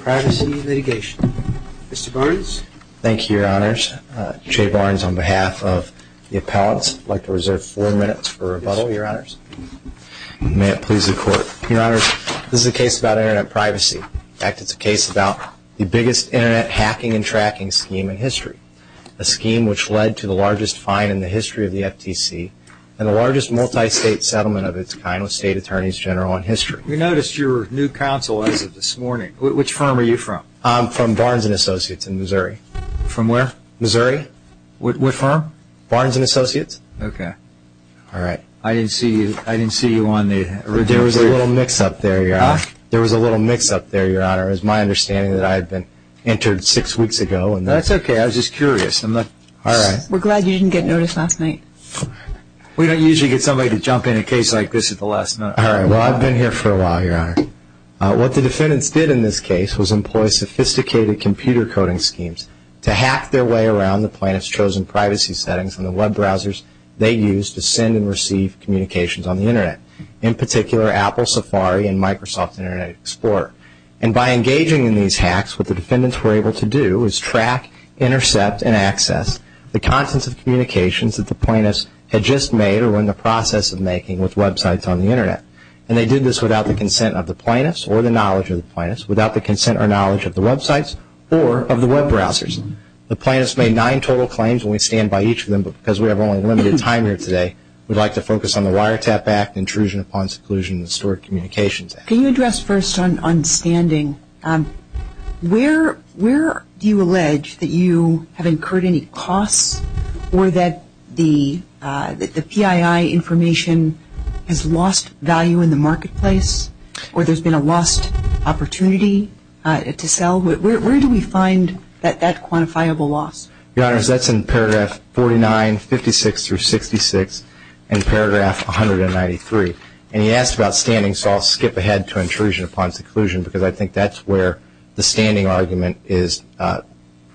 privacy litigation. Mr. Barnes? Thank you, Your Honors. Jay Barnes on behalf of the appellants. I'd like to reserve four minutes for rebuttal, Your Honors. May it please the Court. Your Honors, this is a case about Internet privacy. In fact, it's a case about the biggest Internet hacking and tracking scheme in history, a scheme which led to the largest fine in the history of the FTC and the largest multi-state settlement of its kind with State Attorneys General in history. We noticed your new counsel as of this morning. Which firm are you from? From Barnes & Associates in Missouri. From where? Missouri. What firm? Barnes & Associates. I didn't see you on the original video. There was a little mix-up there, Your Honors. My understanding is that I had been interred six weeks ago. That's okay. I was just curious. We're glad you didn't get noticed last night. We don't usually get somebody to jump in a case like this at the last minute. Well, I've been here for a while, Your Honor. What the defendants did in this case was employ sophisticated computer coding schemes to hack their way around the plaintiff's chosen privacy settings on the web browsers they use to send and receive communications on the Internet, in particular Apple Safari and Microsoft Internet Explorer. And by engaging in these hacks, what the defendants were able to do was track, intercept and access the contents of communications that the plaintiffs had just made or were in the process of making with websites on the Internet. And they did this without the consent of the plaintiffs or the knowledge of the plaintiffs, without the consent or knowledge of the websites or of the web browsers. The plaintiffs made nine total claims and we stand by each of them because we have only a limited time here today. We'd like to focus on the Wiretap Act, Intrusion upon Seclusion and Historic Communications Act. Can you address first on standing? Where do you allege that you have incurred any costs or that the PII information has lost value in the marketplace or there's been a lost opportunity to sell? Where do we find that quantifiable loss? Your Honor, that's in paragraph 49, 56 through 66 and paragraph 193. And he asked about standing so I'll skip ahead to intrusion upon seclusion because I think that's where the standing argument is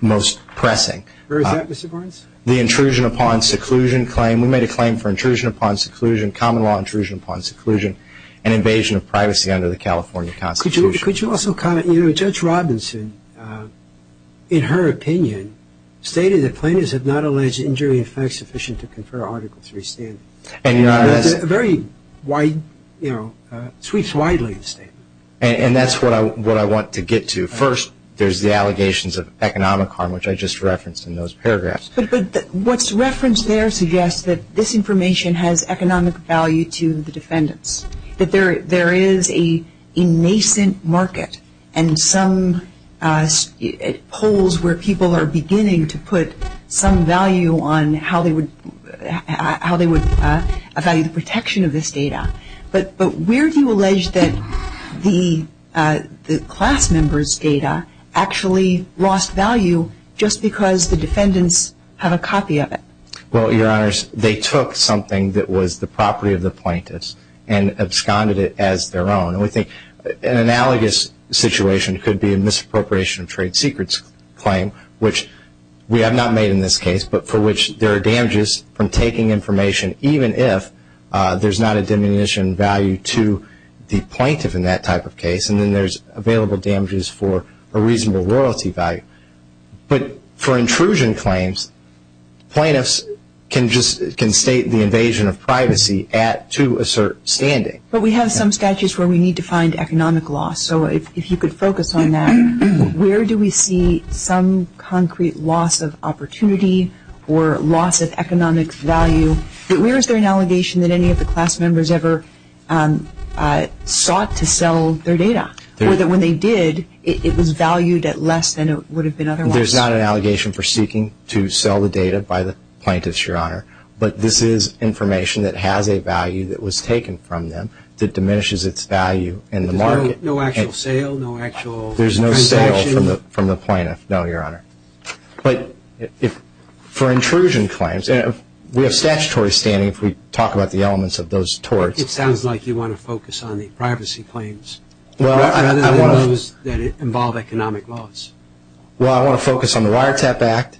most pressing. Where is that, Mr. Barnes? The intrusion upon seclusion claim. We made a claim for intrusion upon seclusion, common law intrusion upon seclusion and invasion of privacy under the California Constitution. Could you also comment? Judge Robinson, in her opinion, stated that plaintiffs have not alleged injury in fact sufficient to confer Article III standing. That's a very wide, you know, sweeps widely the statement. And that's what I want to get to. First, there's the allegations of economic harm, which I just referenced in those paragraphs. What's referenced there suggests that this information has economic value to the defendants, that there is an innocent market and some holes where people are beginning to put some value on how they would value the protection of this data. But where do you allege that the class members' data actually lost value just because the defendants have a copy of it? Well, Your Honors, they took something that was the property of the plaintiffs and absconded it as their own. And we think an analogous situation could be a misappropriation of trade secrets claim, which we have not made in this case, but for which there are damages from taking information even if there's not a diminution in value to the plaintiff in that type of case. And then there's available damages for a reasonable royalty value. But for intrusion claims, plaintiffs can state the invasion of privacy to assert standing. But we have some statutes where we need to find economic loss. So if you could focus on that, where do we see some concrete loss of opportunity or loss of economic value? Where is there an allegation that any of the class members ever sought to sell their data? When they did, it was valued at less than it would have been otherwise. There's not an allegation for seeking to sell the data by the plaintiffs, Your Honor. But this is information that has a value that was taken from them that diminishes its value in the market. No actual sale? No actual transaction? There's no sale from the plaintiff, no, Your Honor. But for intrusion claims, we have statutory standing if we talk about the elements of those torts. It sounds like you want to focus on the privacy claims rather than those that involve economic loss. Well, I want to focus on the Wiretap Act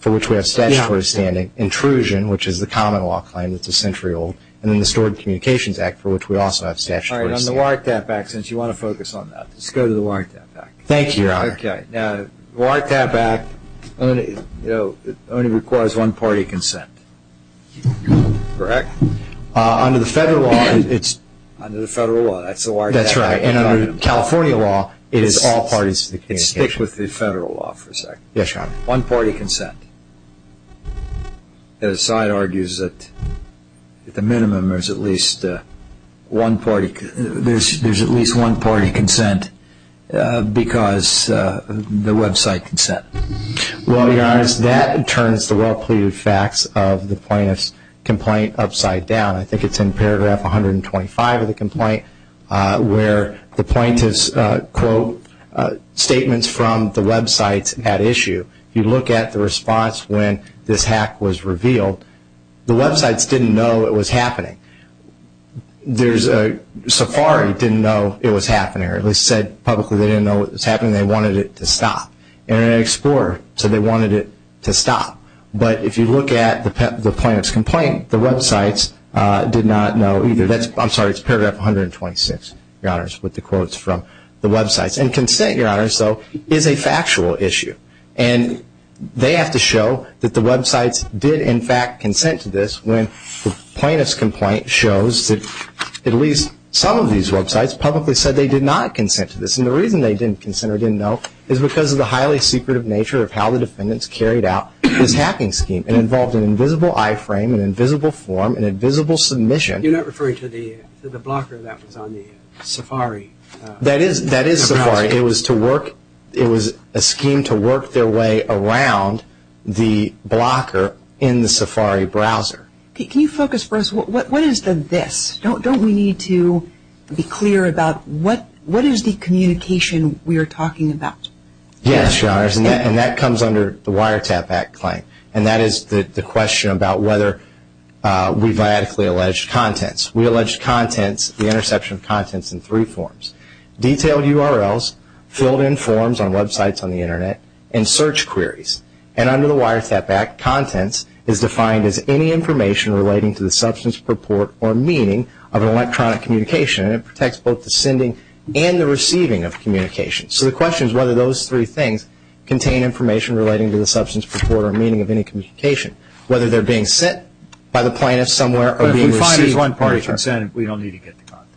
for which we have statutory standing, intrusion which is the common law claim that's a century old, and then the Stored Communications Act for which we also have statutory standing. All right. On the Wiretap Act, since you want to focus on that, let's go to the Wiretap Act. Thank you, Your Honor. Okay. Now, the Wiretap Act only requires one party consent, correct? Under the federal law, it's... Under the federal law, that's the Wiretap Act. That's right. And under California law, it is all parties to the communication. Let's stick with the federal law for a second. Yes, Your Honor. One party consent. The side argues that at the minimum, there's at least one party consent because the website consent. Well, Your Honor, that turns the well-pleaded facts of the plaintiff's complaint upside down. I think it's in paragraph 125 of the complaint where the plaintiff's, quote, statements from the websites at issue. If you look at the response when this hack was revealed, the websites didn't know it was happening. There's... Safari didn't know it was happening or at least said publicly they didn't know it was happening. They wanted it to stop. Internet Explorer said they wanted it to stop. But if you look at the plaintiff's complaint, the websites did not know either. That's... I'm sorry, it's paragraph 126, Your Honor, with the quotes from the websites. And consent, Your Honor, so is a factual issue. And they have to show that the websites did in fact consent to this when the plaintiff's complaint shows that at least some of these websites did consent to this. And the reason they didn't consent or didn't know is because of the highly secretive nature of how the defendants carried out this hacking scheme and involved an invisible iframe, an invisible form, an invisible submission. You're not referring to the blocker that was on the Safari? That is Safari. It was to work... It was a scheme to work their way around the blocker in the Safari browser. Can you focus for us? What is the this? Don't we need to be clear about what is the community communication we are talking about? Yes, Your Honor. And that comes under the Wiretap Act claim. And that is the question about whether we viatically alleged contents. We alleged contents, the interception of contents in three forms. Detailed URLs, filled in forms on websites on the Internet, and search queries. And under the Wiretap Act, contents is defined as any information relating to the substance, purport, or meaning of an electronic communication. And it protects both the sending and the receiving of communications. So the question is whether those three things contain information relating to the substance, purport, or meaning of any communication. Whether they are being sent by the plaintiff somewhere or being received... But if we find there is one party consent, we don't need to get the content.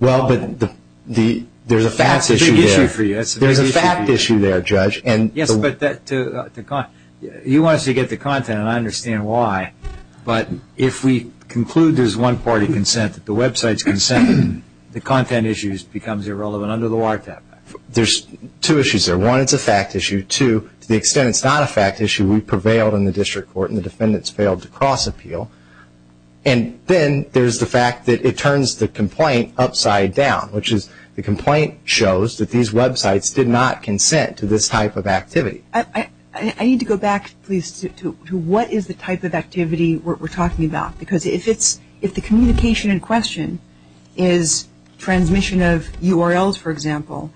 Well, but there is a fact issue there. That is a big issue for you. There is a fact issue there, Judge. Yes, but you want us to get the content, and I understand why. But if we conclude there content issues becomes irrelevant under the Wiretap Act. There is two issues there. One, it is a fact issue. Two, to the extent it is not a fact issue, we prevailed in the district court and the defendants failed to cross-appeal. And then there is the fact that it turns the complaint upside down, which is the complaint shows that these websites did not consent to this type of activity. I need to go back, please, to what is the type of activity we are talking about. Because if the communication in question is transmission of URLs, for example,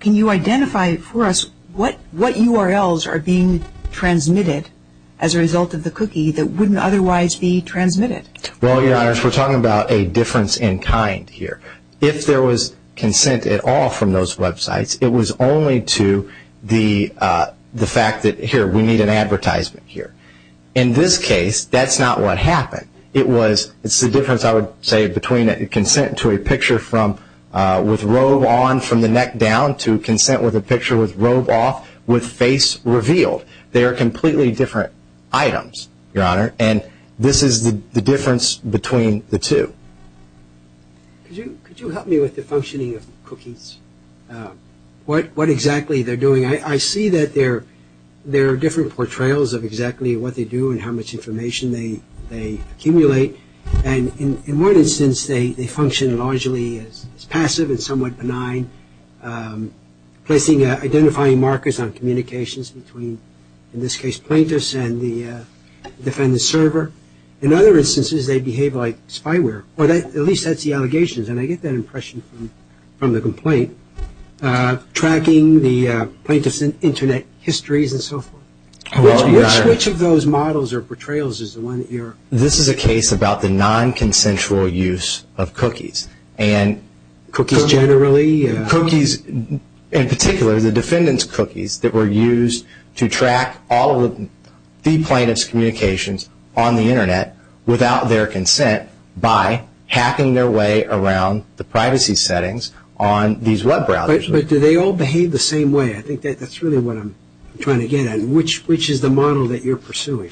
can you identify for us what URLs are being transmitted as a result of the cookie that wouldn't otherwise be transmitted? Well, Your Honor, we are talking about a difference in kind here. If there was consent at all from those websites, it was only to the fact that, here, we need an advertisement here. In this case, that is not what happened. It is the difference, I would say, between consent to a picture with robe on from the neck down to consent with a picture with robe off with face revealed. They are completely different items, Your Honor, and this is the difference between the two. Could you help me with the functioning of cookies? What exactly are they doing? I see that there are different portrayals of exactly what they do and how much information they accumulate. In one instance, they function largely as passive and somewhat benign, identifying markers on communications between, in this case, plaintiffs and the defendant's server. In other instances, they behave like spyware, or at least that is the allegation. I get that, histories and so forth. Which of those models or portrayals is the one that you are referring to? This is a case about the non-consensual use of cookies and cookies, in particular, the defendant's cookies that were used to track all of the plaintiff's communications on the Internet without their consent by hacking their way around the privacy settings on these web browsers. Do they all behave the same way? I think that is really what I am trying to get at. Which is the model that you are pursuing?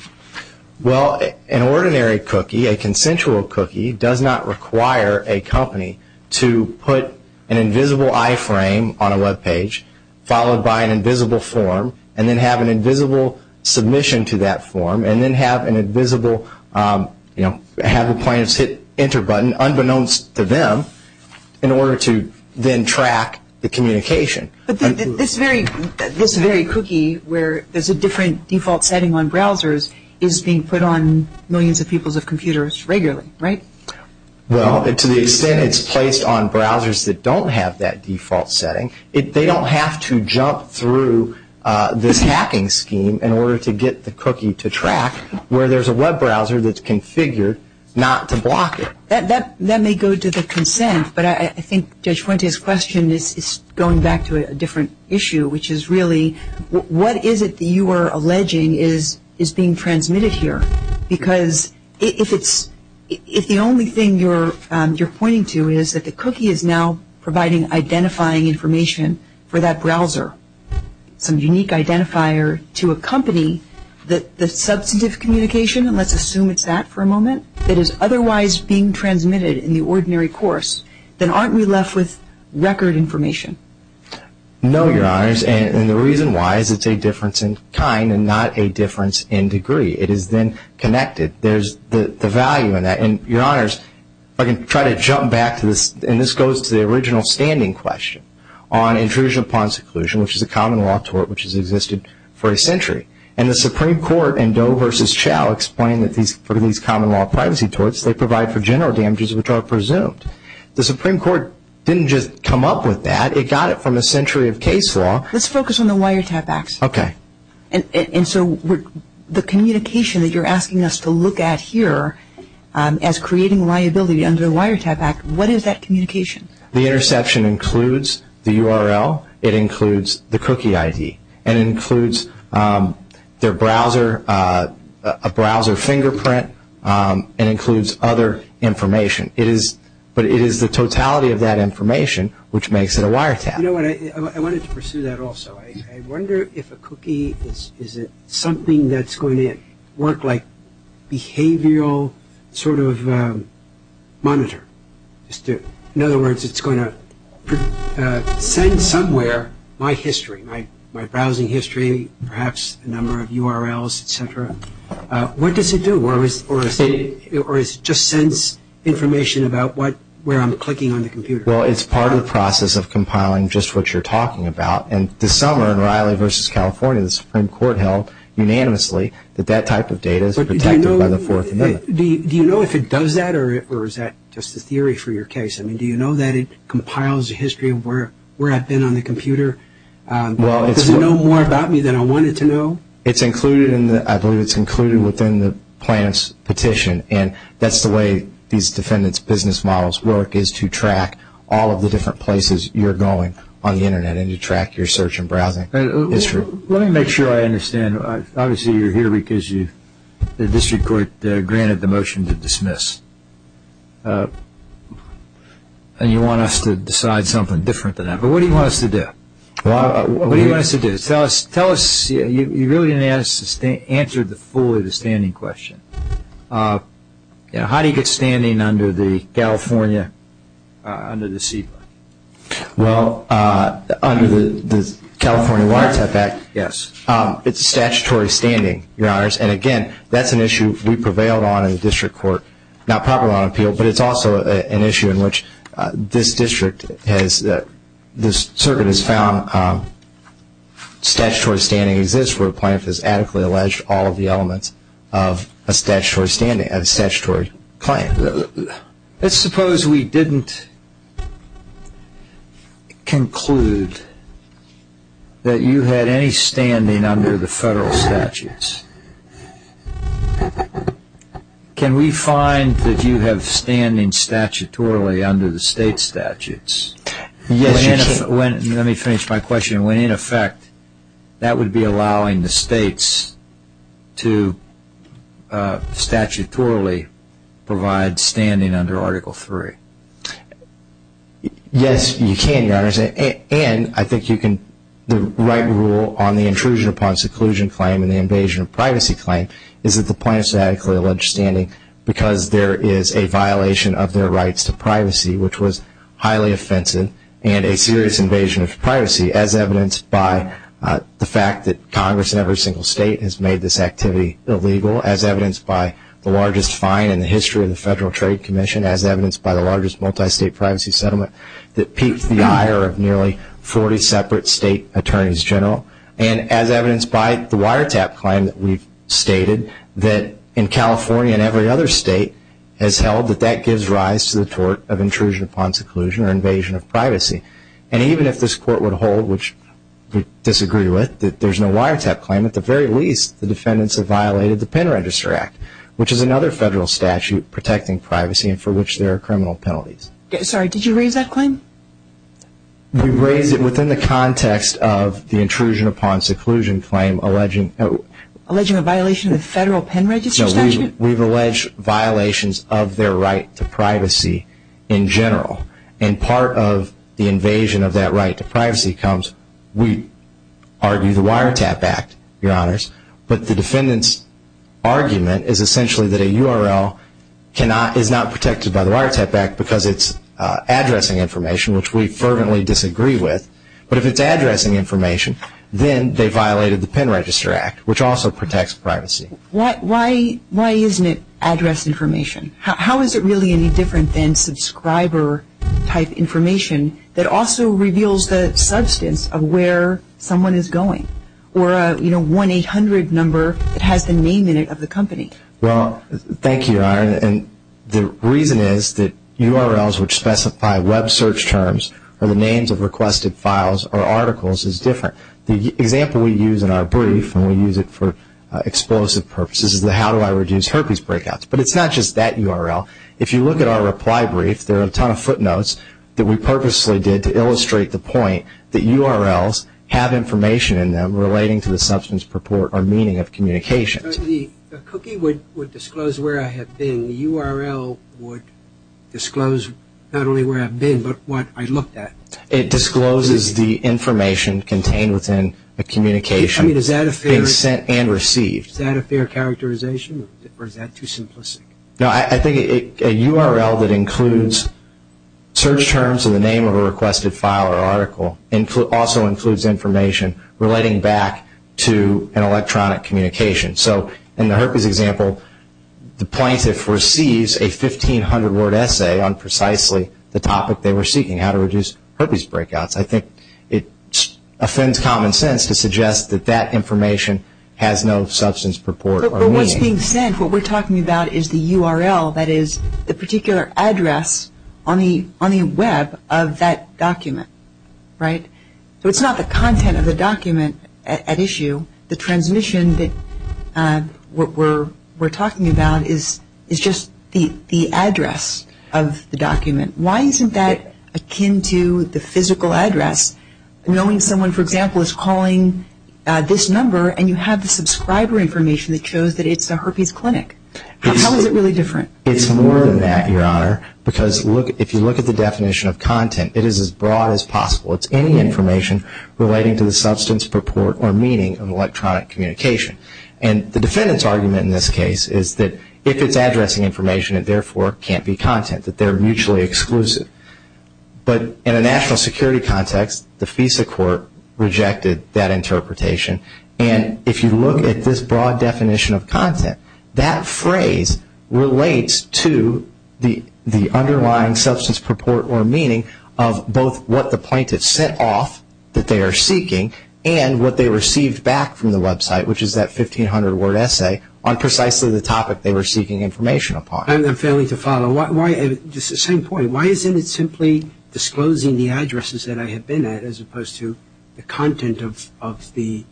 An ordinary cookie, a consensual cookie, does not require a company to put an invisible iframe on a web page, followed by an invisible form, and then have an invisible submission to that form, and then have the plaintiffs hit enter button, unbeknownst to them, in their communication. But this very cookie, where there is a different default setting on browsers, is being put on millions of people's computers regularly, right? Well, to the extent it is placed on browsers that do not have that default setting, they do not have to jump through this hacking scheme in order to get the cookie to track, where there is a web browser that is configured not to block it. That may go to the consent, but I think Judge Fuente's question is going back to a different issue, which is really, what is it that you are alleging is being transmitted here? Because if the only thing you are pointing to is that the cookie is now providing identifying information for that browser, some unique identifier to accompany the substantive communication, and let's assume it's that for a moment, that is otherwise being transmitted in the ordinary course, then aren't we left with record information? No, Your Honors, and the reason why is it's a difference in kind and not a difference in degree. It is then connected. There is the value in that, and Your Honors, I can try to jump back to this, and this goes to the original standing question on intrusion upon seclusion, which is a common law tort which has existed for a century. The Supreme Court in Doe v. Chau explained that for these common law privacy torts, they provide for general damages which are presumed. The Supreme Court didn't just come up with that. It got it from a century of case law. Let's focus on the Wiretap Act, and so the communication that you are asking us to look at here as creating liability under the Wiretap Act, what is that communication? The interception includes the URL, it includes the cookie ID, and it includes their browser, a browser fingerprint, and it includes other information, but it is the totality of that information which makes it a wiretap. You know what, I wanted to pursue that also. I wonder if a cookie, is it something that's going to work like behavioral sort of monitor, in other words, it's going to send somewhere my history, my browsing history, perhaps a number of URLs, etc. What does it do? Or is it just sends information about where I'm clicking on the computer? Well, it's part of the process of compiling just what you're talking about, and this summer in Riley v. California, the Supreme Court held unanimously that that type of data is protected by the Fourth Amendment. Do you know if it does that, or is that just a theory for your case? I mean, do you know that it compiles a history of where I've been on the computer? Does it know more about me than I want it to know? It's included in the, I believe it's included within the plaintiff's petition, and that's the way these defendant's business models work, is to track all of the different places you're going on the internet, and to track your search and browsing history. Let me make sure I understand, obviously you're here because the district court granted the motion to dismiss, and you want us to decide something different than that, but what do you want us to do? What do you want us to do? Tell us, tell us, you really didn't answer fully the standing question. How do you get standing under the California, under the CEPA? Well, under the California Water Type Act, yes, it's a statutory standing, your honors, and again, that's an issue we prevailed on in the district court, not properly on appeal, but it's also an issue in which this district has, this circuit has found statutory standing exists where a plaintiff has adequately alleged all of the elements of a statutory standing, a statutory claim. Let's suppose we didn't conclude that you had any standing under the federal statutes, can we find that you have standing statutorily under the state statutes? Yes, you can. When, let me finish my question, when in effect, that would be allowing the states to statutorily provide standing under Article 3? Yes, you can, your honors, and I think you can, the right rule on the intrusion upon a statutory claim is that the plaintiff is statutorily alleged standing because there is a violation of their rights to privacy, which was highly offensive and a serious invasion of privacy, as evidenced by the fact that Congress in every single state has made this activity illegal, as evidenced by the largest fine in the history of the Federal Trade Commission, as evidenced by the largest multi-state privacy settlement that peaked the ire of nearly 40 separate state attorneys general, and as evidenced by the wiretap claim that we've stated that in California and every other state has held that that gives rise to the tort of intrusion upon seclusion or invasion of privacy, and even if this Court would hold, which we disagree with, that there's no wiretap claim, at the very least, the defendants have violated the Pen Register Act, which is another federal statute protecting privacy and for which there are criminal penalties. Sorry, did you raise that claim? We've raised it within the context of the intrusion upon seclusion claim alleging... Alleging a violation of the Federal Pen Register statute? No, we've alleged violations of their right to privacy in general, and part of the invasion of that right to privacy comes, we argue, the Wiretap Act, Your Honors, but the defendants argument is essentially that a URL is not protected by the Wiretap Act because it's addressing information, which we fervently disagree with, but if it's addressing information, then they violated the Pen Register Act, which also protects privacy. Why isn't it address information? How is it really any different than subscriber-type information that also reveals the substance of where someone is going, or a 1-800 number that has the name in it of the company? Well, thank you, Ira, and the reason is that URLs which specify web search terms or the names of requested files or articles is different. The example we use in our brief, and we use it for explosive purposes, is the how do I reduce herpes breakouts, but it's not just that URL. If you look at our reply brief, there are a ton of footnotes that we purposely did to illustrate the point that URLs have information in them relating to the substance purport or meaning of communication. The cookie would disclose where I have been. The URL would disclose not only where I've been, but what I looked at. It discloses the information contained within a communication being sent and received. Is that a fair characterization, or is that too simplistic? No, I think a URL that includes search terms in the name of a requested file or article also includes information relating back to an electronic communication. So in the herpes example, the plaintiff receives a 1,500-word essay on precisely the topic they were seeking, how to reduce herpes breakouts. I think it offends common sense to suggest that that information has no substance purport or meaning. But what's being sent, what we're talking about is the URL, that is, the particular address on the web of that document, right? So it's not the content of the document at issue. The transmission that we're talking about is just the address of the document. Why isn't that akin to the physical address, knowing someone, for example, is calling this number and you have the subscriber information that shows that it's a herpes clinic? How is it really different? It's more than that, Your Honor, because if you look at the definition of content, it is as broad as possible. It's any information relating to the substance, purport, or meaning of electronic communication. And the defendant's argument in this case is that if it's addressing information, it therefore can't be content, that they're mutually exclusive. But in a national security context, the FISA court rejected that interpretation. And if you look at this broad definition of content, that phrase relates to the underlying substance, purport, or meaning of both what the plaintiff sent off that they are seeking and what they received back from the website, which is that 1,500-word essay, on precisely the topic they were seeking information upon. I'm failing to follow. Just the same point. Why isn't it simply disclosing the addresses that I have been at as opposed to the content of the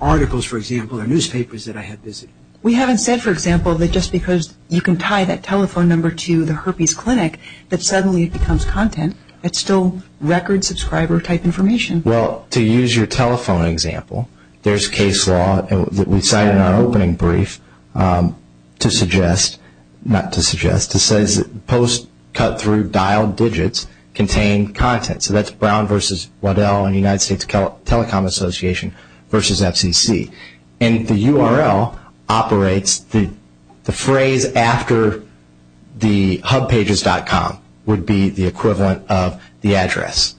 articles, for example, or newspapers that I have visited? We haven't said, for example, that just because you can tie that telephone number to the herpes clinic, that suddenly it becomes content. It's still record subscriber-type information. Well, to use your telephone example, there's case law that we cite in our opening brief to suggest, not to suggest, to say that post cut-through dialed digits contain content. So that's Brown v. Waddell and the United States Telecom Association v. FCC. And the URL operates the phrase after the hubpages.com would be the equivalent of the address.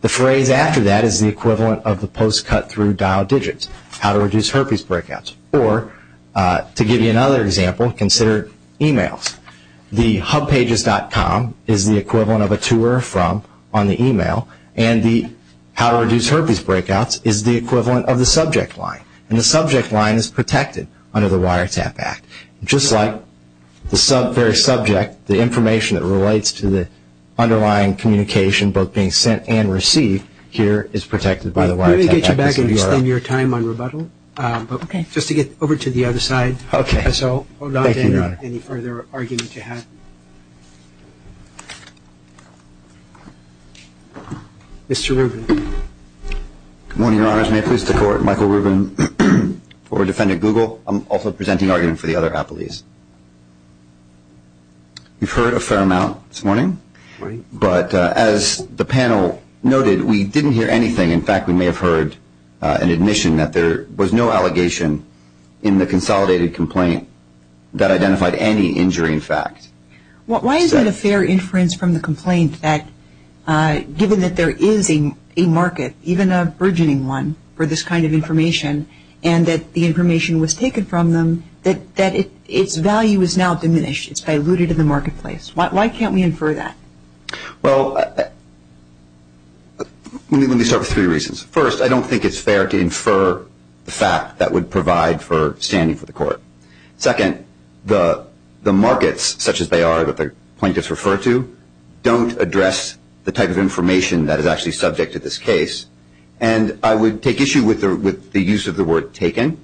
The phrase after that is the equivalent of the post cut-through dialed digits, how to reduce herpes breakouts. Or to give you another example, consider emails. The hubpages.com is the equivalent of a to or from on the email, and the how to reduce herpes breakouts is the equivalent of the subject line. And the subject line is protected under the Wiretap Act. Just like the very subject, the information that relates to the underlying communication both being sent and received here is protected by the Wiretap Act. Let me get you back and extend your time on rebuttal. Okay. Just to get over to the other side. Okay. Thank you, Your Honor. Mr. Rubin. Good morning, Your Honors. May it please the Court, Michael Rubin for Defendant Google. I'm also presenting argument for the other appellees. You've heard a fair amount this morning. Right. But as the panel noted, we didn't hear anything. In fact, we may have heard an admission that there was no allegation in the consolidated complaint that identified any injury in fact. Why is it a fair inference from the complaint that given that there is a market, even a burgeoning one, for this kind of information, and that the information was taken from them, that its value is now diminished? It's diluted in the marketplace. Why can't we infer that? Well, let me start with three reasons. First, I don't think it's fair to infer the fact that would provide for standing for the Court. Second, the markets, such as they are that the plaintiffs refer to, don't address the type of information that is actually subject to this case. And I would take issue with the use of the word taken.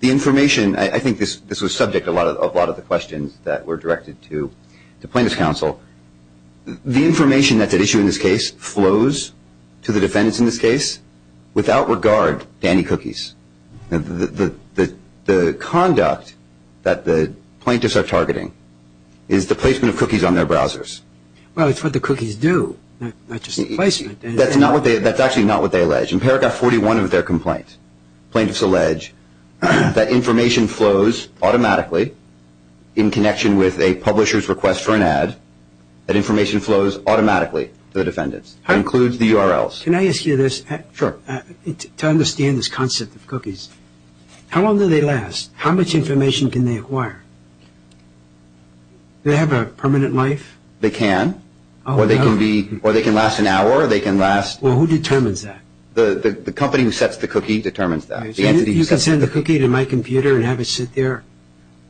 The information, I think this was subject to a lot of the questions that were directed to the plaintiffs' counsel. The information that's at issue in this case flows to the defendants in this case without regard to any cookies. The conduct that the plaintiffs are targeting is the placement of cookies on their browsers. Well, it's what the cookies do, not just the placement. That's actually not what they allege. In paragraph 41 of their complaint, plaintiffs allege that information flows automatically in connection with a publisher's request for an ad, that information flows automatically to the defendants. It includes the URLs. Can I ask you this? Sure. To understand this concept of cookies, how long do they last? How much information can they acquire? Do they have a permanent life? They can, or they can last an hour. Well, who determines that? The company who sets the cookie determines that. You can send the cookie to my computer and have it sit there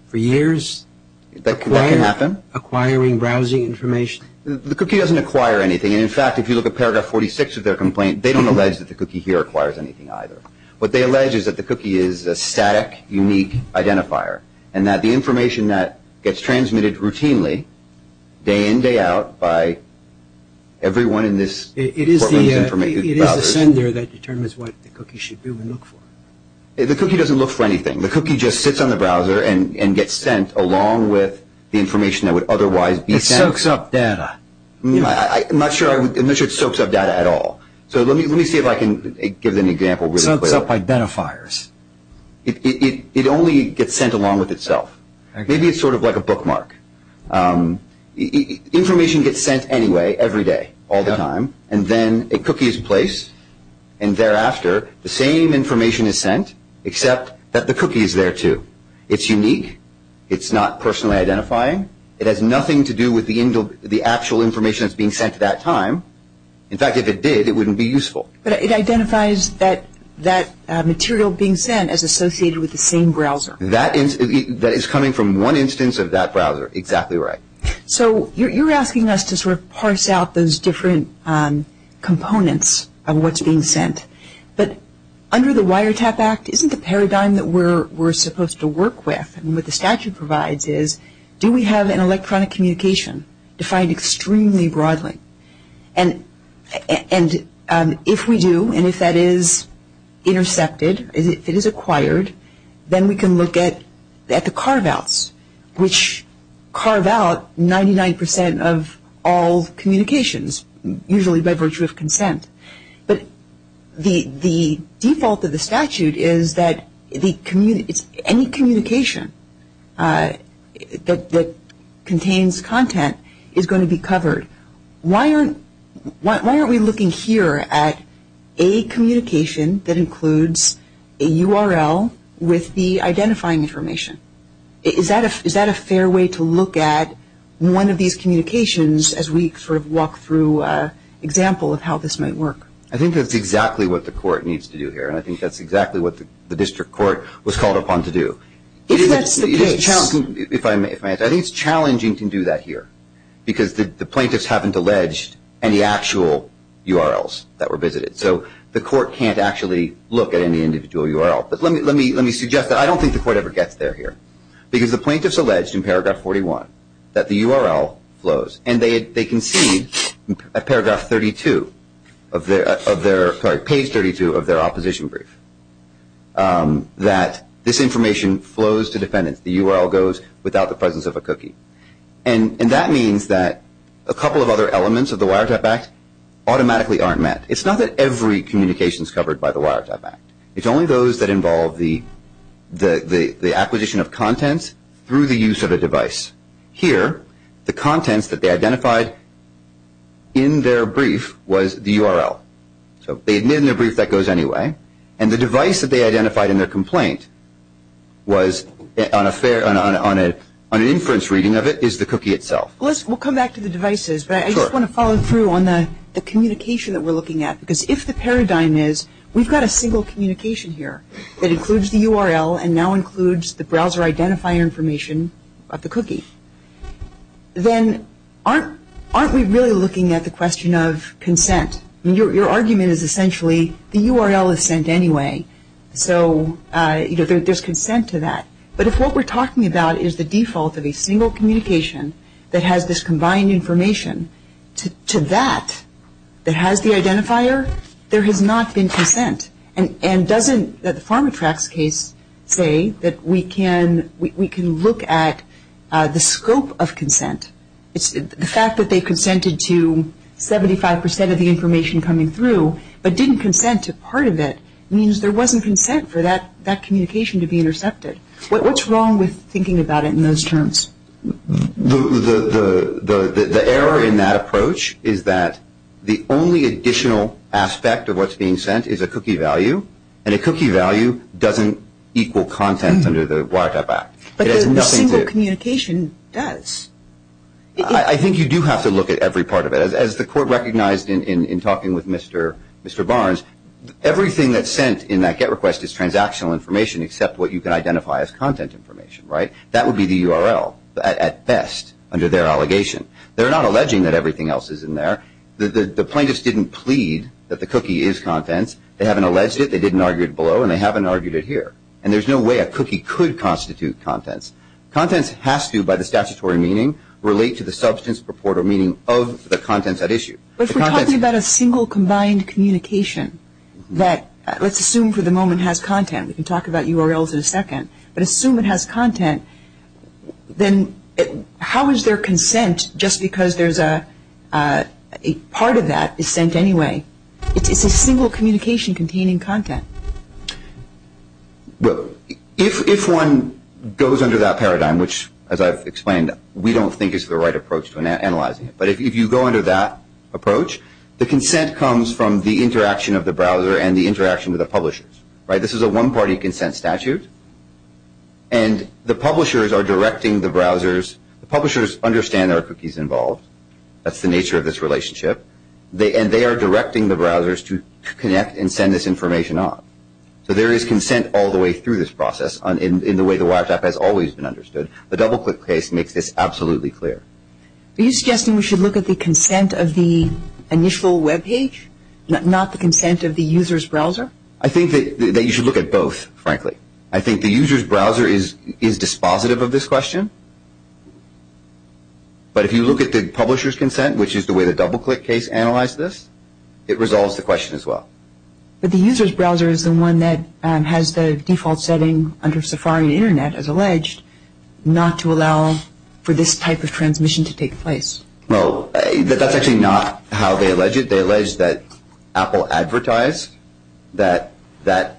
for years? That can happen. Acquiring browsing information? The cookie doesn't acquire anything. And, in fact, if you look at paragraph 46 of their complaint, they don't allege that the cookie here acquires anything either. What they allege is that the cookie is a static, unique identifier, and that the information that gets transmitted routinely, day in, day out, by everyone in this program's browsers. It is the sender that determines what the cookie should do and look for. The cookie doesn't look for anything. The cookie just sits on the browser and gets sent along with the information that would otherwise be sent. It soaks up data. I'm not sure it soaks up data at all. So let me see if I can give an example really quickly. It soaks up identifiers. It only gets sent along with itself. Maybe it's sort of like a bookmark. Information gets sent anyway, every day, all the time, and then a cookie is placed, and thereafter the same information is sent except that the cookie is there too. It's unique. It's not personally identifying. It has nothing to do with the actual information that's being sent at that time. In fact, if it did, it wouldn't be useful. But it identifies that material being sent as associated with the same browser. That is coming from one instance of that browser. Exactly right. So you're asking us to sort of parse out those different components of what's being sent. But under the Wiretap Act, isn't the paradigm that we're supposed to work with and what the statute provides is do we have an electronic communication defined extremely broadly? And if we do, and if that is intercepted, if it is acquired, then we can look at the carve-outs, which carve out 99% of all communications, but the default of the statute is that any communication that contains content is going to be covered. Why aren't we looking here at a communication that includes a URL with the identifying information? Is that a fair way to look at one of these communications as we sort of walk through an example of how this might work? I think that's exactly what the court needs to do here, and I think that's exactly what the district court was called upon to do. If that's the case. I think it's challenging to do that here, because the plaintiffs haven't alleged any actual URLs that were visited. So the court can't actually look at any individual URL. But let me suggest that I don't think the court ever gets there here, because the plaintiffs alleged in paragraph 41 that the URL flows, and they concede at page 32 of their opposition brief that this information flows to defendants. The URL goes without the presence of a cookie. And that means that a couple of other elements of the Wiretap Act automatically aren't met. It's not that every communication is covered by the Wiretap Act. It's only those that involve the acquisition of contents through the use of a device. Here, the contents that they identified in their brief was the URL. So they admit in their brief that goes anyway, and the device that they identified in their complaint on an inference reading of it is the cookie itself. We'll come back to the devices, but I just want to follow through on the communication that we're looking at, because if the paradigm is we've got a single communication here that includes the URL and now includes the browser identifier information of the cookie, then aren't we really looking at the question of consent? Your argument is essentially the URL is sent anyway, so there's consent to that. But if what we're talking about is the default of a single communication that has this combined information to that that has the identifier, there has not been consent. And doesn't the Pharmatrax case say that we can look at the scope of consent? The fact that they consented to 75 percent of the information coming through but didn't consent to part of it means there wasn't consent for that communication to be intercepted. What's wrong with thinking about it in those terms? The error in that approach is that the only additional aspect of what's being sent is a cookie value, and a cookie value doesn't equal content under the Wiretap Act. But the single communication does. I think you do have to look at every part of it. As the Court recognized in talking with Mr. Barnes, everything that's sent in that GET request is transactional information except what you can identify as content information, right? That would be the URL at best under their allegation. They're not alleging that everything else is in there. The plaintiffs didn't plead that the cookie is contents. They haven't alleged it. They didn't argue it below, and they haven't argued it here. And there's no way a cookie could constitute contents. Contents has to, by the statutory meaning, relate to the substance, purport, or meaning of the contents at issue. If we're talking about a single combined communication that, let's assume for the moment, has content, we can talk about URLs in a second, but assume it has content, then how is there consent just because part of that is sent anyway? It's a single communication containing content. If one goes under that paradigm, which, as I've explained, we don't think is the right approach to analyzing it. But if you go under that approach, the consent comes from the interaction of the browser and the interaction with the publishers, right? This is a one-party consent statute. And the publishers are directing the browsers. The publishers understand there are cookies involved. That's the nature of this relationship. And they are directing the browsers to connect and send this information on. So there is consent all the way through this process in the way the wiretap has always been understood. The DoubleClick case makes this absolutely clear. Are you suggesting we should look at the consent of the initial web page, not the consent of the user's browser? I think that you should look at both, frankly. I think the user's browser is dispositive of this question. But if you look at the publisher's consent, which is the way the DoubleClick case analyzed this, it resolves the question as well. But the user's browser is the one that has the default setting under Safari and Internet, as alleged, not to allow for this type of transmission to take place. Well, that's actually not how they allege it. They allege that Apple advertised that the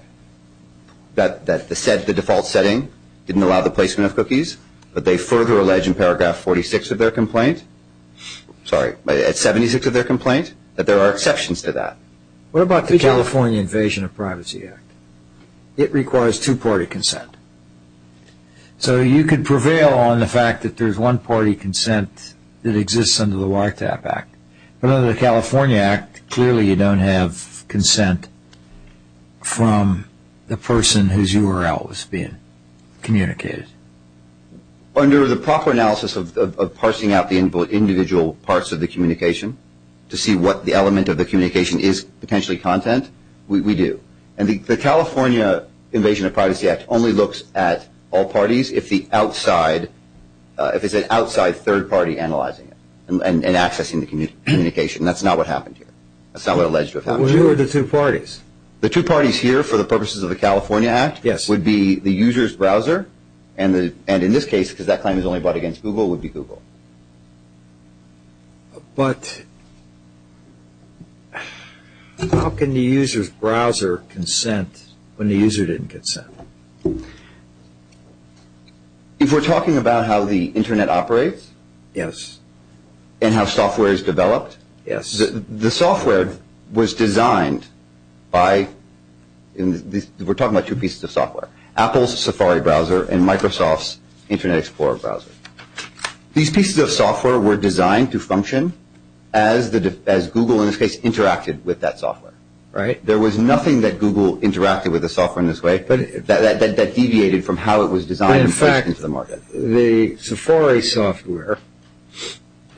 default setting didn't allow the placement of cookies. But they further allege in paragraph 46 of their complaint, sorry, at 76 of their complaint, that there are exceptions to that. What about the California Invasion of Privacy Act? It requires two-party consent. So you could prevail on the fact that there's one-party consent that exists under the Wiretap Act. But under the California Act, clearly you don't have consent from the person whose URL is being communicated. Under the proper analysis of parsing out the individual parts of the communication to see what the element of the communication is potentially content, we do. And the California Invasion of Privacy Act only looks at all parties if it's an outside third party analyzing it and accessing the communication. That's not what happened here. That's not what alleged to have happened here. Who are the two parties? The two parties here for the purposes of the California Act would be the user's browser and in this case, because that claim is only brought against Google, would be Google. But how can the user's browser consent when the user didn't consent? If we're talking about how the Internet operates? Yes. And how software is developed? Yes. The software was designed by, we're talking about two pieces of software, Apple's Safari browser and Microsoft's Internet Explorer browser. These pieces of software were designed to function as Google, in this case, interacted with that software. Right. There was nothing that Google interacted with the software in this way, but that deviated from how it was designed and pushed into the market. In fact, the Safari software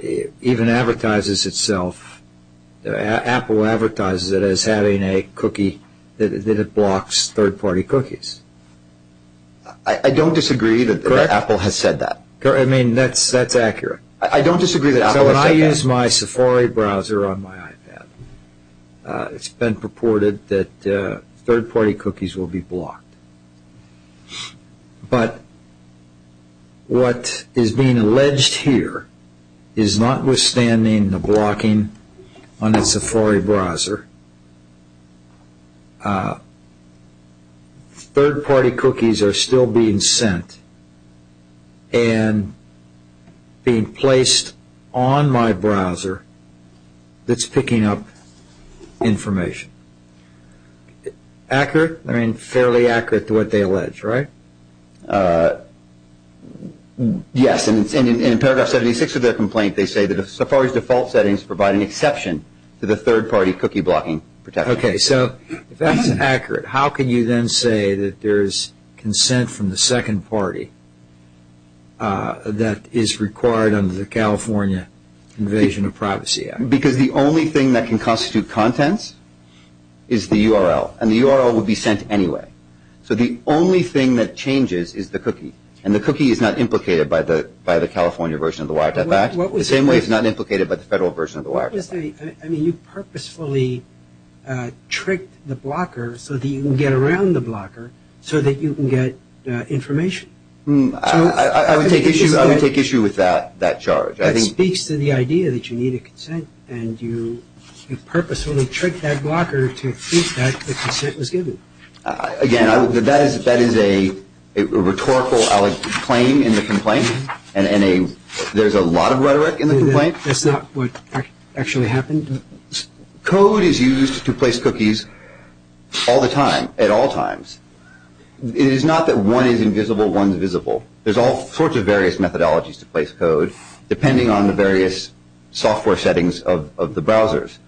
even advertises itself, Apple advertises it as having a cookie that blocks third party cookies. I don't disagree that Apple has said that. I mean, that's accurate. I don't disagree that Apple has said that. When I use my Safari browser on my iPad, it's been purported that third party cookies will be blocked. But what is being alleged here is notwithstanding the blocking on the Safari browser, third party cookies are still being sent and being placed on my browser that's picking up information. Accurate? I mean, fairly accurate to what they allege, right? Yes, and in paragraph 76 of their complaint, they say that Safari's default settings provide an exception to the third party cookie blocking protection. Okay, so if that's accurate, how can you then say that there is consent from the second party that is required under the California Invasion of Privacy Act? Because the only thing that can constitute contents is the URL, and the URL would be sent anyway. So the only thing that changes is the cookie, and the cookie is not implicated by the California version of the Wi-Fi Act. The same way it's not implicated by the federal version of the Wi-Fi Act. I mean, you purposefully tricked the blocker so that you can get around the blocker, so that you can get information. I would take issue with that charge. That speaks to the idea that you need a consent, and you purposefully tricked that blocker to think that the consent was given. Again, that is a rhetorical claim in the complaint. There's a lot of rhetoric in the complaint. That's not what actually happened? Code is used to place cookies all the time, at all times. It is not that one is invisible, one is visible. There's all sorts of various methodologies to place code, depending on the various software settings of the browsers.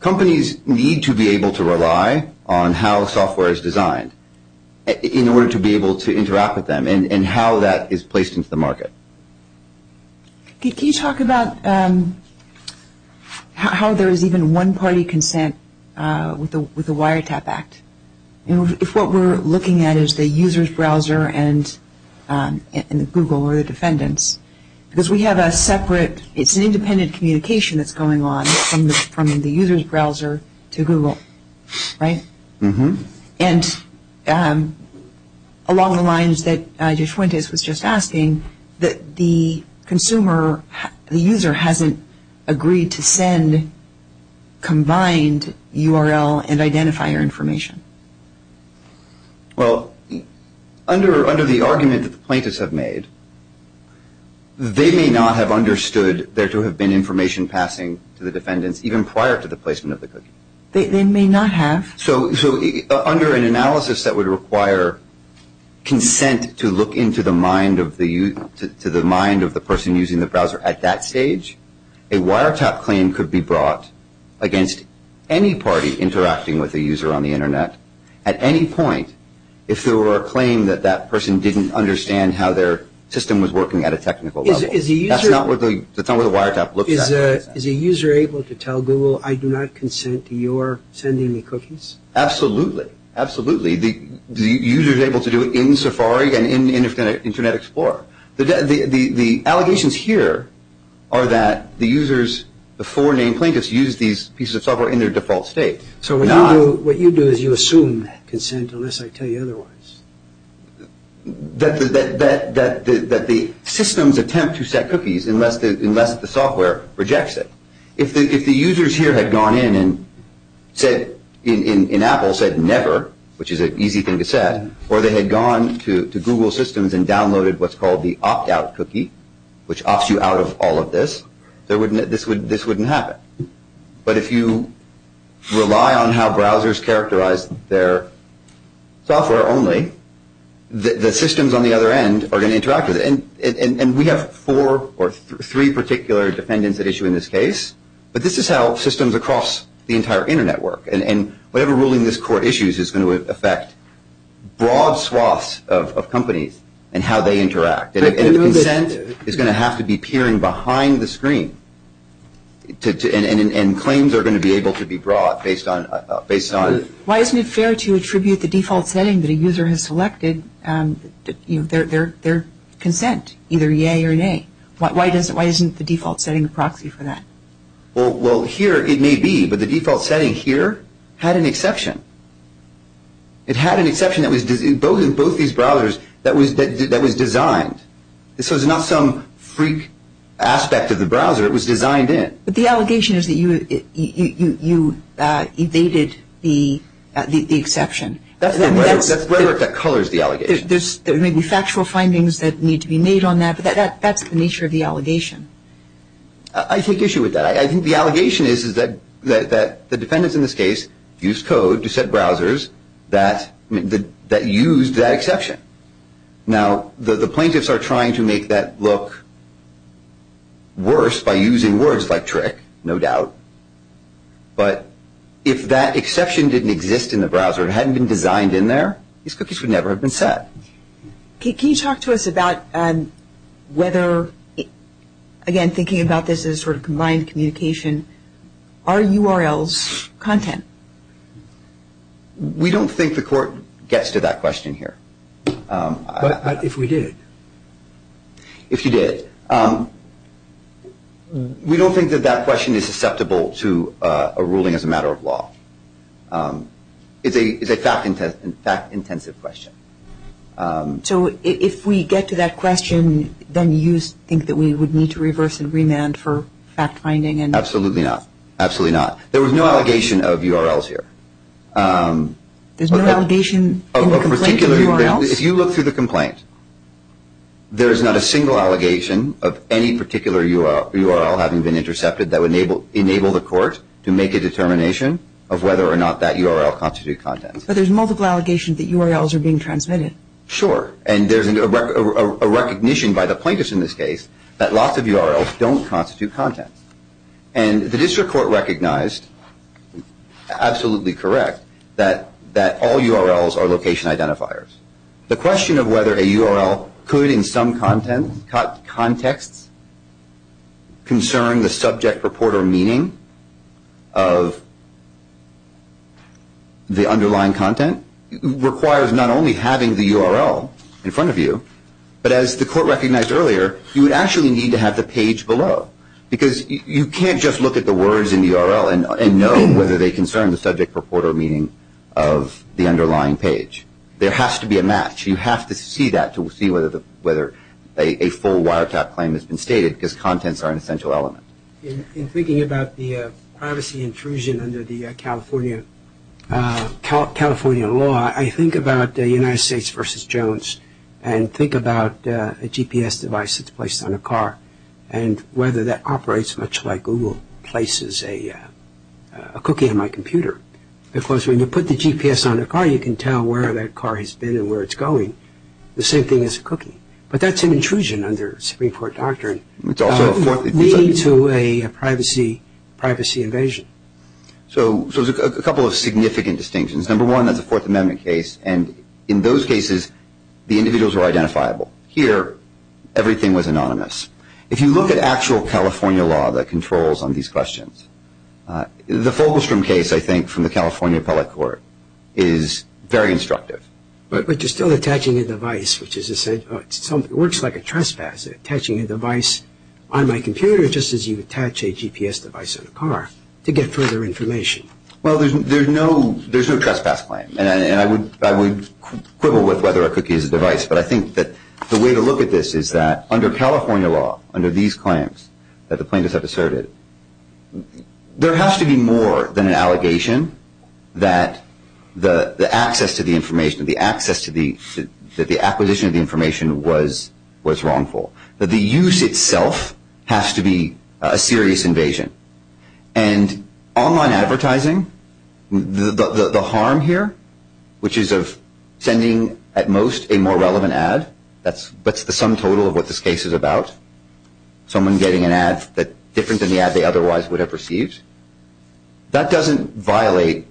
Companies need to be able to rely on how software is designed in order to be able to interact with them, and how that is placed into the market. Can you talk about how there is even one-party consent with the Wiretap Act? If what we're looking at is the user's browser and Google or the defendants, because we have a separate, it's an independent communication that's going on from the user's browser to Google, right? And along the lines that Judge Fuentes was just asking, the user hasn't agreed to send combined URL and identifier information. Well, under the argument that the plaintiffs have made, they may not have understood there to have been information passing to the defendants even prior to the placement of the cookie. They may not have. So under an analysis that would require consent to look into the mind of the person using the browser at that stage, a Wiretap claim could be brought against any party interacting with a user on the Internet at any point if there were a claim that that person didn't understand how their system was working at a technical level. That's not what the Wiretap looks at. Is a user able to tell Google, I do not consent to your sending me cookies? Absolutely. Absolutely. The user is able to do it in Safari and in Internet Explorer. The allegations here are that the users, the four named plaintiffs, use these pieces of software in their default state. So what you do is you assume consent unless I tell you otherwise. That the systems attempt to set cookies unless the software rejects it. If the users here had gone in and said, in Apple, said never, which is an easy thing to say, or they had gone to Google systems and downloaded what's called the opt-out cookie, which opts you out of all of this, this wouldn't happen. But if you rely on how browsers characterize their software only, the systems on the other end are going to interact with it. And we have four or three particular defendants at issue in this case. But this is how systems across the entire Internet work. And whatever ruling this court issues is going to affect broad swaths of companies and how they interact. And consent is going to have to be peering behind the screen. And claims are going to be able to be brought based on... Why isn't it fair to attribute the default setting that a user has selected their consent, either yay or nay? Why isn't the default setting a proxy for that? Well, here it may be, but the default setting here had an exception. It had an exception in both these browsers that was designed. This was not some freak aspect of the browser. It was designed in. But the allegation is that you evaded the exception. That's the rhetoric that colors the allegation. There may be factual findings that need to be made on that, but that's the nature of the allegation. I take issue with that. I think the allegation is that the defendants in this case used code to set browsers that used that exception. Now, the plaintiffs are trying to make that look worse by using words like trick, no doubt. But if that exception didn't exist in the browser, it hadn't been designed in there, these cookies would never have been set. Can you talk to us about whether, again, thinking about this as sort of combined communication, are URLs content? We don't think the court gets to that question here. But if we did? If you did. We don't think that that question is susceptible to a ruling as a matter of law. It's a fact-intensive question. So if we get to that question, then you think that we would need to reverse and remand for fact-finding? Absolutely not. Absolutely not. There was no allegation of URLs here. There's no allegation in the complaint of URLs? If you look through the complaint, there is not a single allegation of any particular URL having been intercepted that would enable the court to make a determination of whether or not that URL constitutes content. But there's multiple allegations that URLs are being transmitted. Sure. And there's a recognition by the plaintiffs in this case that lots of URLs don't constitute content. And the district court recognized, absolutely correct, that all URLs are location identifiers. The question of whether a URL could in some context concern the subject, report, or meaning of the underlying content requires not only having the URL in front of you, but as the court recognized earlier, you would actually need to have the page below. Because you can't just look at the words in the URL and know whether they concern the subject, report, or meaning of the underlying page. There has to be a match. You have to see that to see whether a full wiretap claim has been stated because contents are an essential element. In thinking about the privacy intrusion under the California law, I think about the United States versus Jones and think about a GPS device that's placed on a car and whether that operates much like Google places a cookie on my computer. Because when you put the GPS on a car, you can tell where that car has been and where it's going. The same thing as a cookie. But that's an intrusion under Supreme Court doctrine leading to a privacy invasion. So there's a couple of significant distinctions. Number one, that's a Fourth Amendment case. And in those cases, the individuals were identifiable. Here, everything was anonymous. If you look at actual California law that controls on these questions, the Fogelstrom case, I think, from the California Appellate Court is very instructive. But you're still attaching a device, which is essential. It works like a trespass, attaching a device on my computer just as you attach a GPS device on a car to get further information. Well, there's no trespass claim. And I would quibble with whether a cookie is a device. But I think that the way to look at this is that under California law, under these claims that the plaintiffs have asserted, there has to be more than an allegation that the access to the information, the access to the acquisition of the information was wrongful. The use itself has to be a serious invasion. And online advertising, the harm here, which is of sending, at most, a more relevant ad, that's the sum total of what this case is about, someone getting an ad that's different than the ad they otherwise would have received. That doesn't violate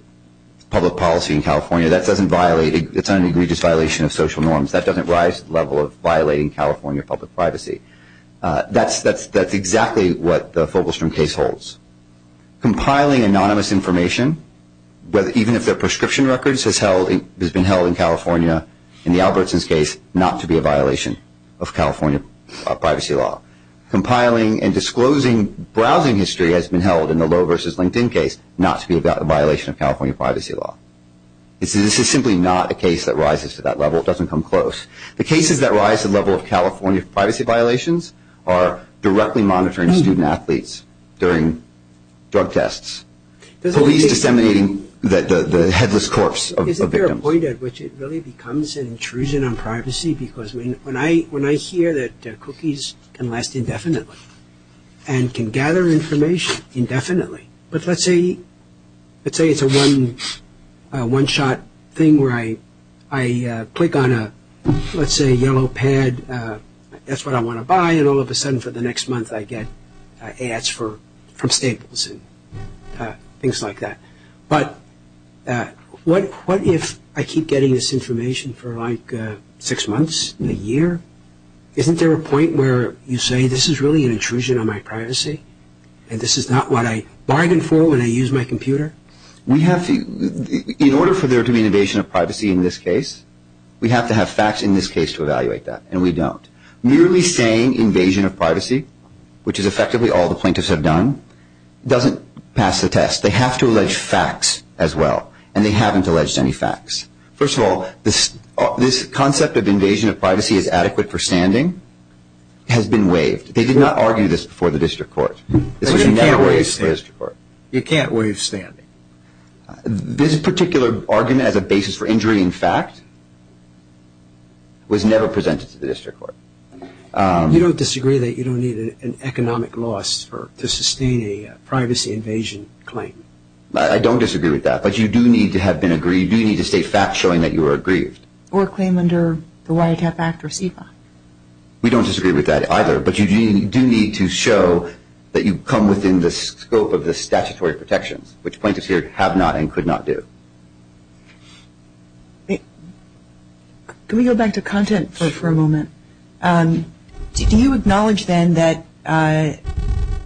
public policy in California. That doesn't violate – it's an egregious violation of social norms. That doesn't rise to the level of violating California public privacy. That's exactly what the Fogelstrom case holds. Compiling anonymous information, even if they're prescription records, has been held in California, in the Albertsons case, not to be a violation of California privacy law. Compiling and disclosing browsing history has been held in the Lowe versus LinkedIn case not to be a violation of California privacy law. This is simply not a case that rises to that level. It doesn't come close. The cases that rise to the level of California privacy violations are directly monitoring student-athletes during drug tests, police disseminating the headless corpse of victims. Is there a point at which it really becomes an intrusion on privacy? Because when I hear that cookies can last indefinitely and can gather information indefinitely, but let's say it's a one-shot thing where I click on a, let's say, yellow pad. That's what I want to buy, and all of a sudden for the next month I get ads from Staples and things like that. But what if I keep getting this information for like six months, a year? Isn't there a point where you say this is really an intrusion on my privacy and this is not what I bargained for when I used my computer? In order for there to be an invasion of privacy in this case, we have to have facts in this case to evaluate that, and we don't. Merely saying invasion of privacy, which is effectively all the plaintiffs have done, doesn't pass the test. They have to allege facts as well, and they haven't alleged any facts. First of all, this concept of invasion of privacy as adequate for standing has been waived. They did not argue this before the district court. This was never waived before the district court. You can't waive standing. This particular argument as a basis for injury in fact was never presented to the district court. You don't disagree that you don't need an economic loss to sustain a privacy invasion claim? I don't disagree with that, but you do need to have been aggrieved. You do need to state facts showing that you were aggrieved. Or a claim under the WIATF Act or CEPA. We don't disagree with that either, but you do need to show that you come within the scope of the statutory protections, which plaintiffs here have not and could not do. Can we go back to content for a moment? Do you acknowledge then that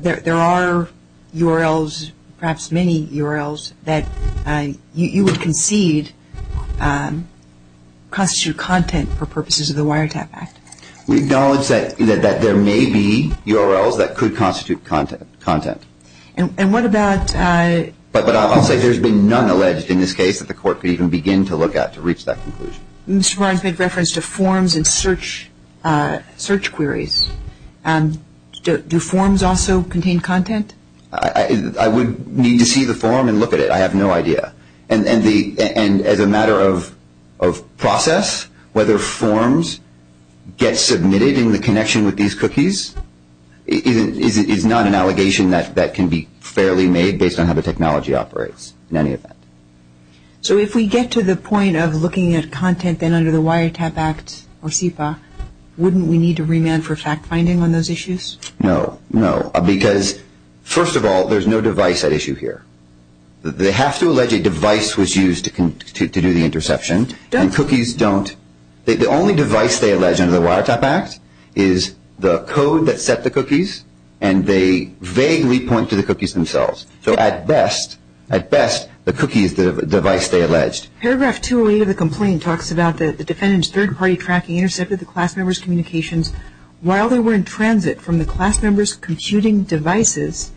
there are URLs, perhaps many URLs, that you would concede constitute content for purposes of the WIATF Act? We acknowledge that there may be URLs that could constitute content. And what about... But I'll say there's been none alleged in this case that the court could even begin to look at to reach that conclusion. Mr. Barnes made reference to forms and search queries. Do forms also contain content? I would need to see the form and look at it. I have no idea. And as a matter of process, whether forms get submitted in the connection with these cookies is not an allegation that can be fairly made based on how the technology operates in any event. So if we get to the point of looking at content then under the WIATF Act or CEPA, wouldn't we need to remand for fact-finding on those issues? No. No. Because, first of all, there's no device at issue here. They have to allege a device was used to do the interception, and cookies don't. The only device they allege under the WIATF Act is the code that set the cookies, and they vaguely point to the cookies themselves. So at best, at best, the cookies, the device, they allege. Paragraph 208 of the complaint talks about the defendant's third-party tracking intercepted the class member's communications while they were in transit from the class member's computing devices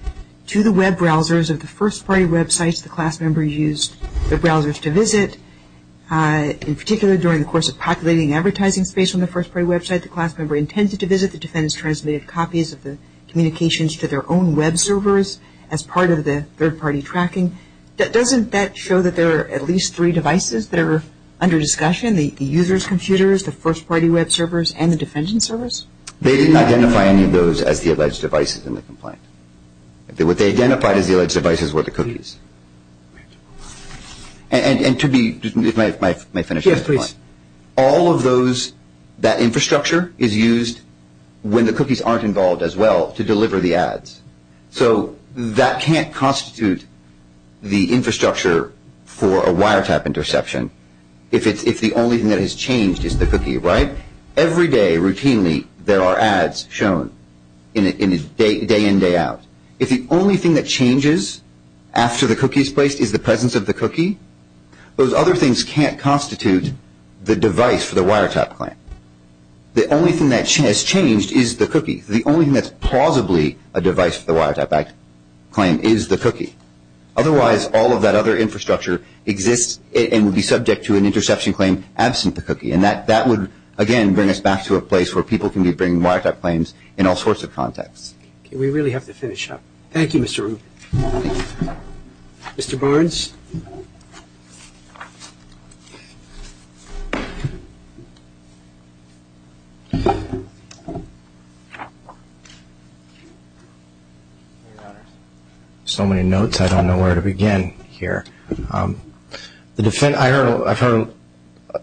to the web browsers of the first-party websites the class member used their browsers to visit. In particular, during the course of populating advertising space on the first-party website the class member intended to visit, the defendants transmitted copies of the communications to their own web servers as part of the third-party tracking. Doesn't that show that there are at least three devices that are under discussion? The user's computers, the first-party web servers, and the defendant's servers? They didn't identify any of those as the alleged devices in the complaint. What they identified as the alleged devices were the cookies. And to be, if I may finish. Yes, please. All of those, that infrastructure is used when the cookies aren't involved as well to deliver the ads. So that can't constitute the infrastructure for a WIATF interception if the only thing that has changed is the cookie, right? Every day, routinely, there are ads shown, day in, day out. If the only thing that changes after the cookie is placed is the presence of the cookie, those other things can't constitute the device for the WIATF claim. The only thing that has changed is the cookie. The only thing that's plausibly a device for the WIATF claim is the cookie. Otherwise, all of that other infrastructure exists and would be subject to an interception claim absent the cookie. And that would, again, bring us back to a place where people can be bringing WIATF claims in all sorts of contexts. We really have to finish up. Thank you, Mr. Rubin. Mr. Barnes? So many notes, I don't know where to begin here. I've heard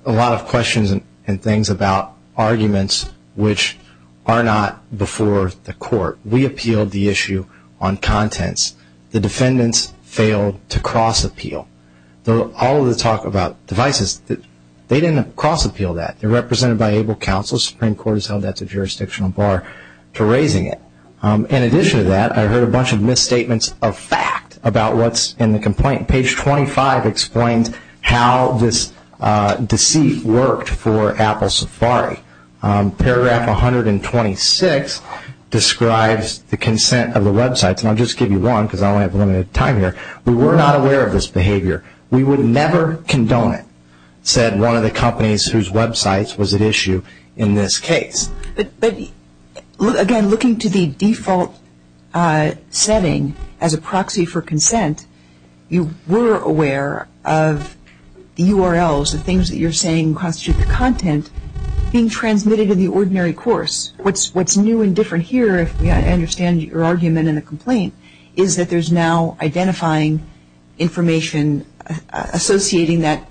a lot of questions and things about arguments which are not before the court. We appealed the issue on contents. The defendants failed to cross-appeal. All of the talk about devices, they didn't cross-appeal that. They're represented by able counsel. The Supreme Court has held that's a jurisdictional bar to raising it. In addition to that, I heard a bunch of misstatements of fact about what's in the complaint. Page 25 explains how this deceit worked for Apple Safari. Paragraph 126 describes the consent of the websites. And I'll just give you one because I only have a limited time here. We were not aware of this behavior. We would never condone it, said one of the companies whose websites was at issue in this case. But, again, looking to the default setting as a proxy for consent, you were aware of the URLs, the things that you're saying constitute the content, being transmitted in the ordinary course. What's new and different here, if I understand your argument in the complaint, is that there's now identifying information associating that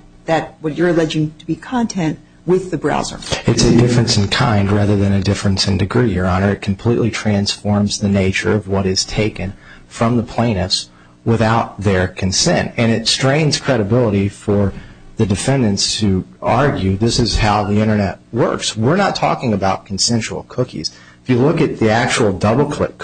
what you're alleging to be content with the browser. It's a difference in kind rather than a difference in degree, Your Honor. It completely transforms the nature of what is taken from the plaintiffs without their consent. And it strains credibility for the defendants who argue this is how the Internet works. We're not talking about consensual cookies. If you look at the actual DoubleClick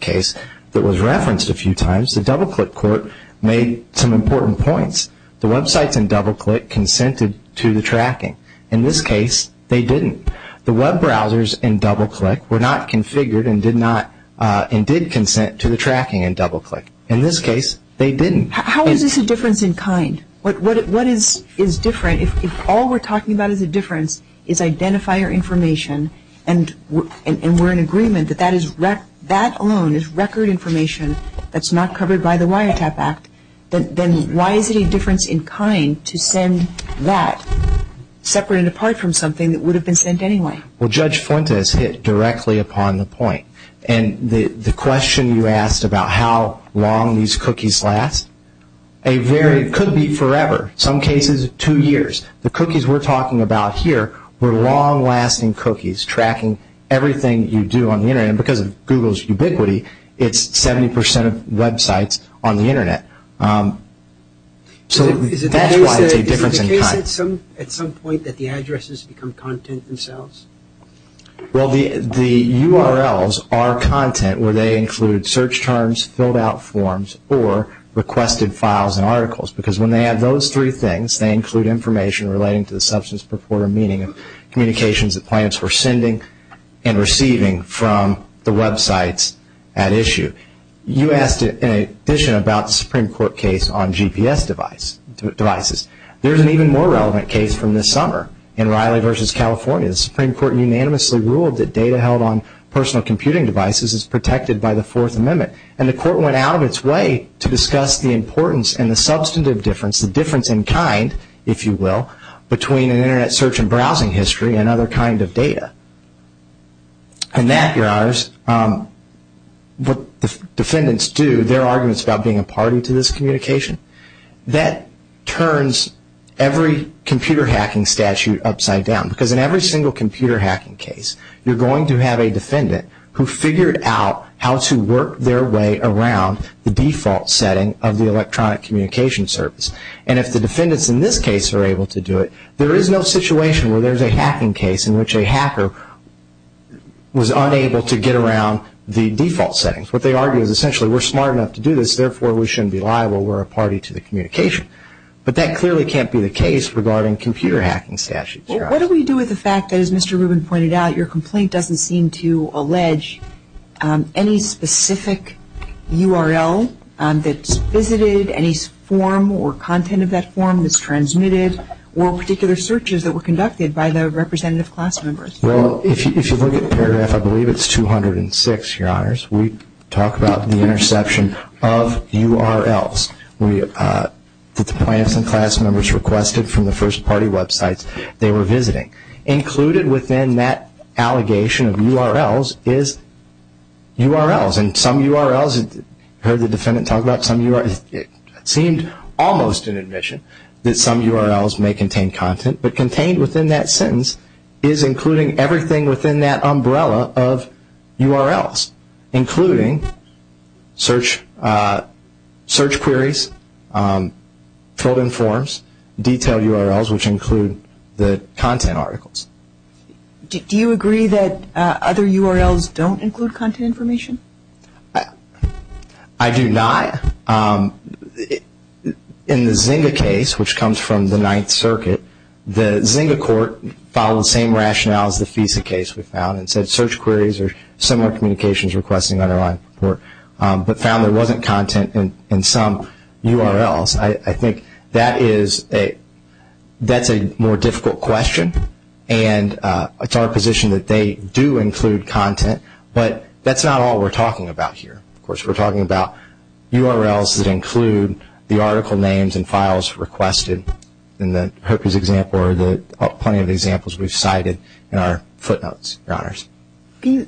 case that was referenced a few times, the DoubleClick court made some important points. The websites in DoubleClick consented to the tracking. In this case, they didn't. The web browsers in DoubleClick were not configured and did consent to the tracking in DoubleClick. In this case, they didn't. How is this a difference in kind? What is different? If all we're talking about is a difference, is identifier information, and we're in agreement that that alone is record information that's not covered by the Wiretap Act, then why is it a difference in kind to send that separate and apart from something that would have been sent anyway? Well, Judge Fuentes hit directly upon the point. And the question you asked about how long these cookies last, it could be forever. In some cases, two years. The cookies we're talking about here were long-lasting cookies tracking everything you do on the Internet. And because of Google's ubiquity, it's 70% of websites on the Internet. So that's why it's a difference in kind. Is it the case at some point that the addresses become content themselves? Well, the URLs are content where they include search terms, filled out forms, or requested files and articles. Because when they have those three things, they include information relating to the substance, purport, or meaning of communications that clients were sending and receiving from the websites at issue. You asked, in addition, about the Supreme Court case on GPS devices. There's an even more relevant case from this summer in Riley v. California. The Supreme Court unanimously ruled that data held on personal computing devices is protected by the Fourth Amendment. And the Court went out of its way to discuss the importance and the substantive difference, the difference in kind, if you will, between an Internet search and browsing history and other kinds of data. And that, Your Honors, what defendants do, their arguments about being a party to this communication, that turns every computer hacking statute upside down. Because in every single computer hacking case, you're going to have a defendant who figured out how to work their way around the default setting of the electronic communication service. And if the defendants in this case are able to do it, there is no situation where there's a hacking case in which a hacker was unable to get around the default settings. What they argue is essentially, we're smart enough to do this, therefore we shouldn't be liable, we're a party to the communication. But that clearly can't be the case regarding computer hacking statutes. What do we do with the fact that, as Mr. Rubin pointed out, your complaint doesn't seem to allege any specific URL that's visited, any form or content of that form that's transmitted, or particular searches that were conducted by the representative class members? Well, if you look at paragraph, I believe it's 206, Your Honors. We talk about the interception of URLs that the plaintiffs and class members requested from the first party websites. They were visiting. Included within that allegation of URLs is URLs. And some URLs, I heard the defendant talk about some URLs, it seemed almost an admission that some URLs may contain content. But contained within that sentence is including everything within that umbrella of URLs, including search queries, filled in forms, detailed URLs, which include the content articles. Do you agree that other URLs don't include content information? I do not. In the Zynga case, which comes from the Ninth Circuit, the Zynga court followed the same rationale as the FISA case we found and said search queries or similar communications requesting underlined report, but found there wasn't content in some URLs. I think that's a more difficult question, and it's our position that they do include content, but that's not all we're talking about here. Of course, we're talking about URLs that include the article names and files requested in the Hookers example or plenty of examples we've cited in our footnotes, Your Honors. Can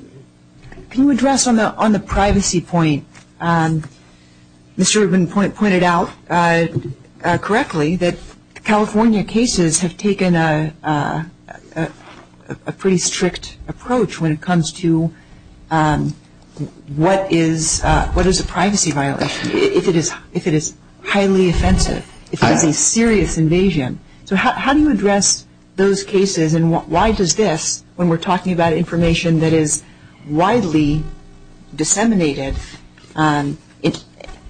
you address on the privacy point, Mr. Rubin pointed out correctly that California cases have taken a pretty strict approach when it comes to what is a privacy violation, if it is highly offensive, if it is a serious invasion. So how do you address those cases, and why does this, when we're talking about information that is widely disseminated,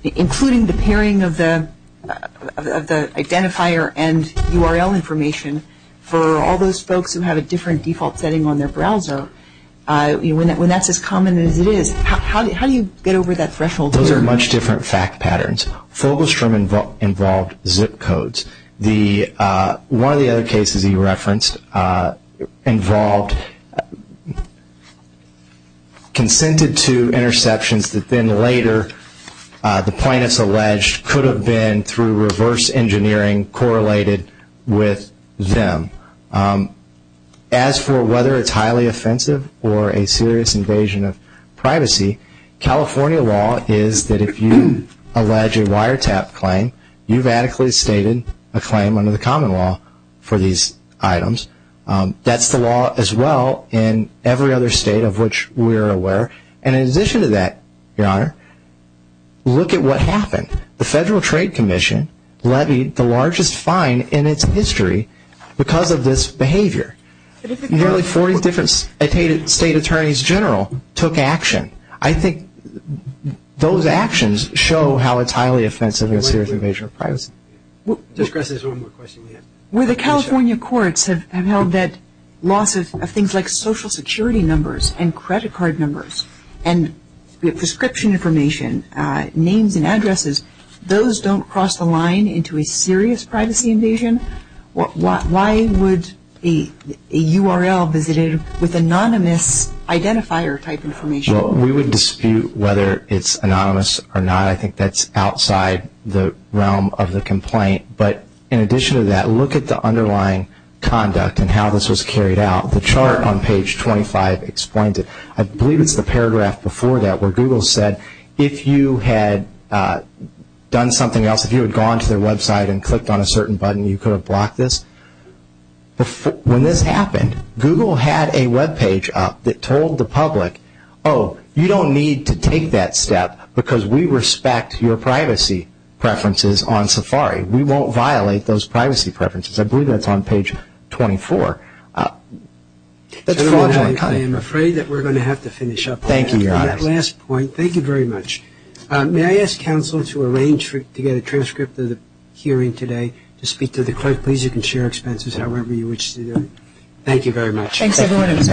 including the pairing of the identifier and URL information for all those folks who have a different default setting on their browser, when that's as common as it is, how do you get over that threshold? Those are much different fact patterns. Fogelstrom involved zip codes. One of the other cases he referenced involved, consented to interceptions that then later, the plaintiffs alleged could have been through reverse engineering correlated with them. As for whether it's highly offensive or a serious invasion of privacy, California law is that if you allege a wiretap claim, you radically stated a claim under the common law for these items. That's the law as well in every other state of which we are aware. In addition to that, Your Honor, look at what happened. The Federal Trade Commission levied the largest fine in its history because of this behavior. Nearly 40 different state attorneys general took action. I think those actions show how it's highly offensive and a serious invasion of privacy. Where the California courts have held that loss of things like social security numbers and credit card numbers and prescription information, names and addresses, those don't cross the line into a serious privacy invasion. Why would a URL visited with anonymous identifier type information? We would dispute whether it's anonymous or not. I think that's outside the realm of the complaint. In addition to that, look at the underlying conduct and how this was carried out. The chart on page 25 explains it. I believe it's the paragraph before that where Google said, if you had done something else, if you had gone to their website and clicked on a certain button, you could have blocked this. When this happened, Google had a webpage up that told the public, oh, you don't need to take that step because we respect your privacy preferences on Safari. We won't violate those privacy preferences. I believe that's on page 24. That's fraudulent. I am afraid that we're going to have to finish up. Thank you, Your Honor. Last point. Thank you very much. May I ask counsel to arrange to get a transcript of the hearing today to speak to the court? Please, you can share expenses however you wish to do it. Thank you very much. Thanks, everyone.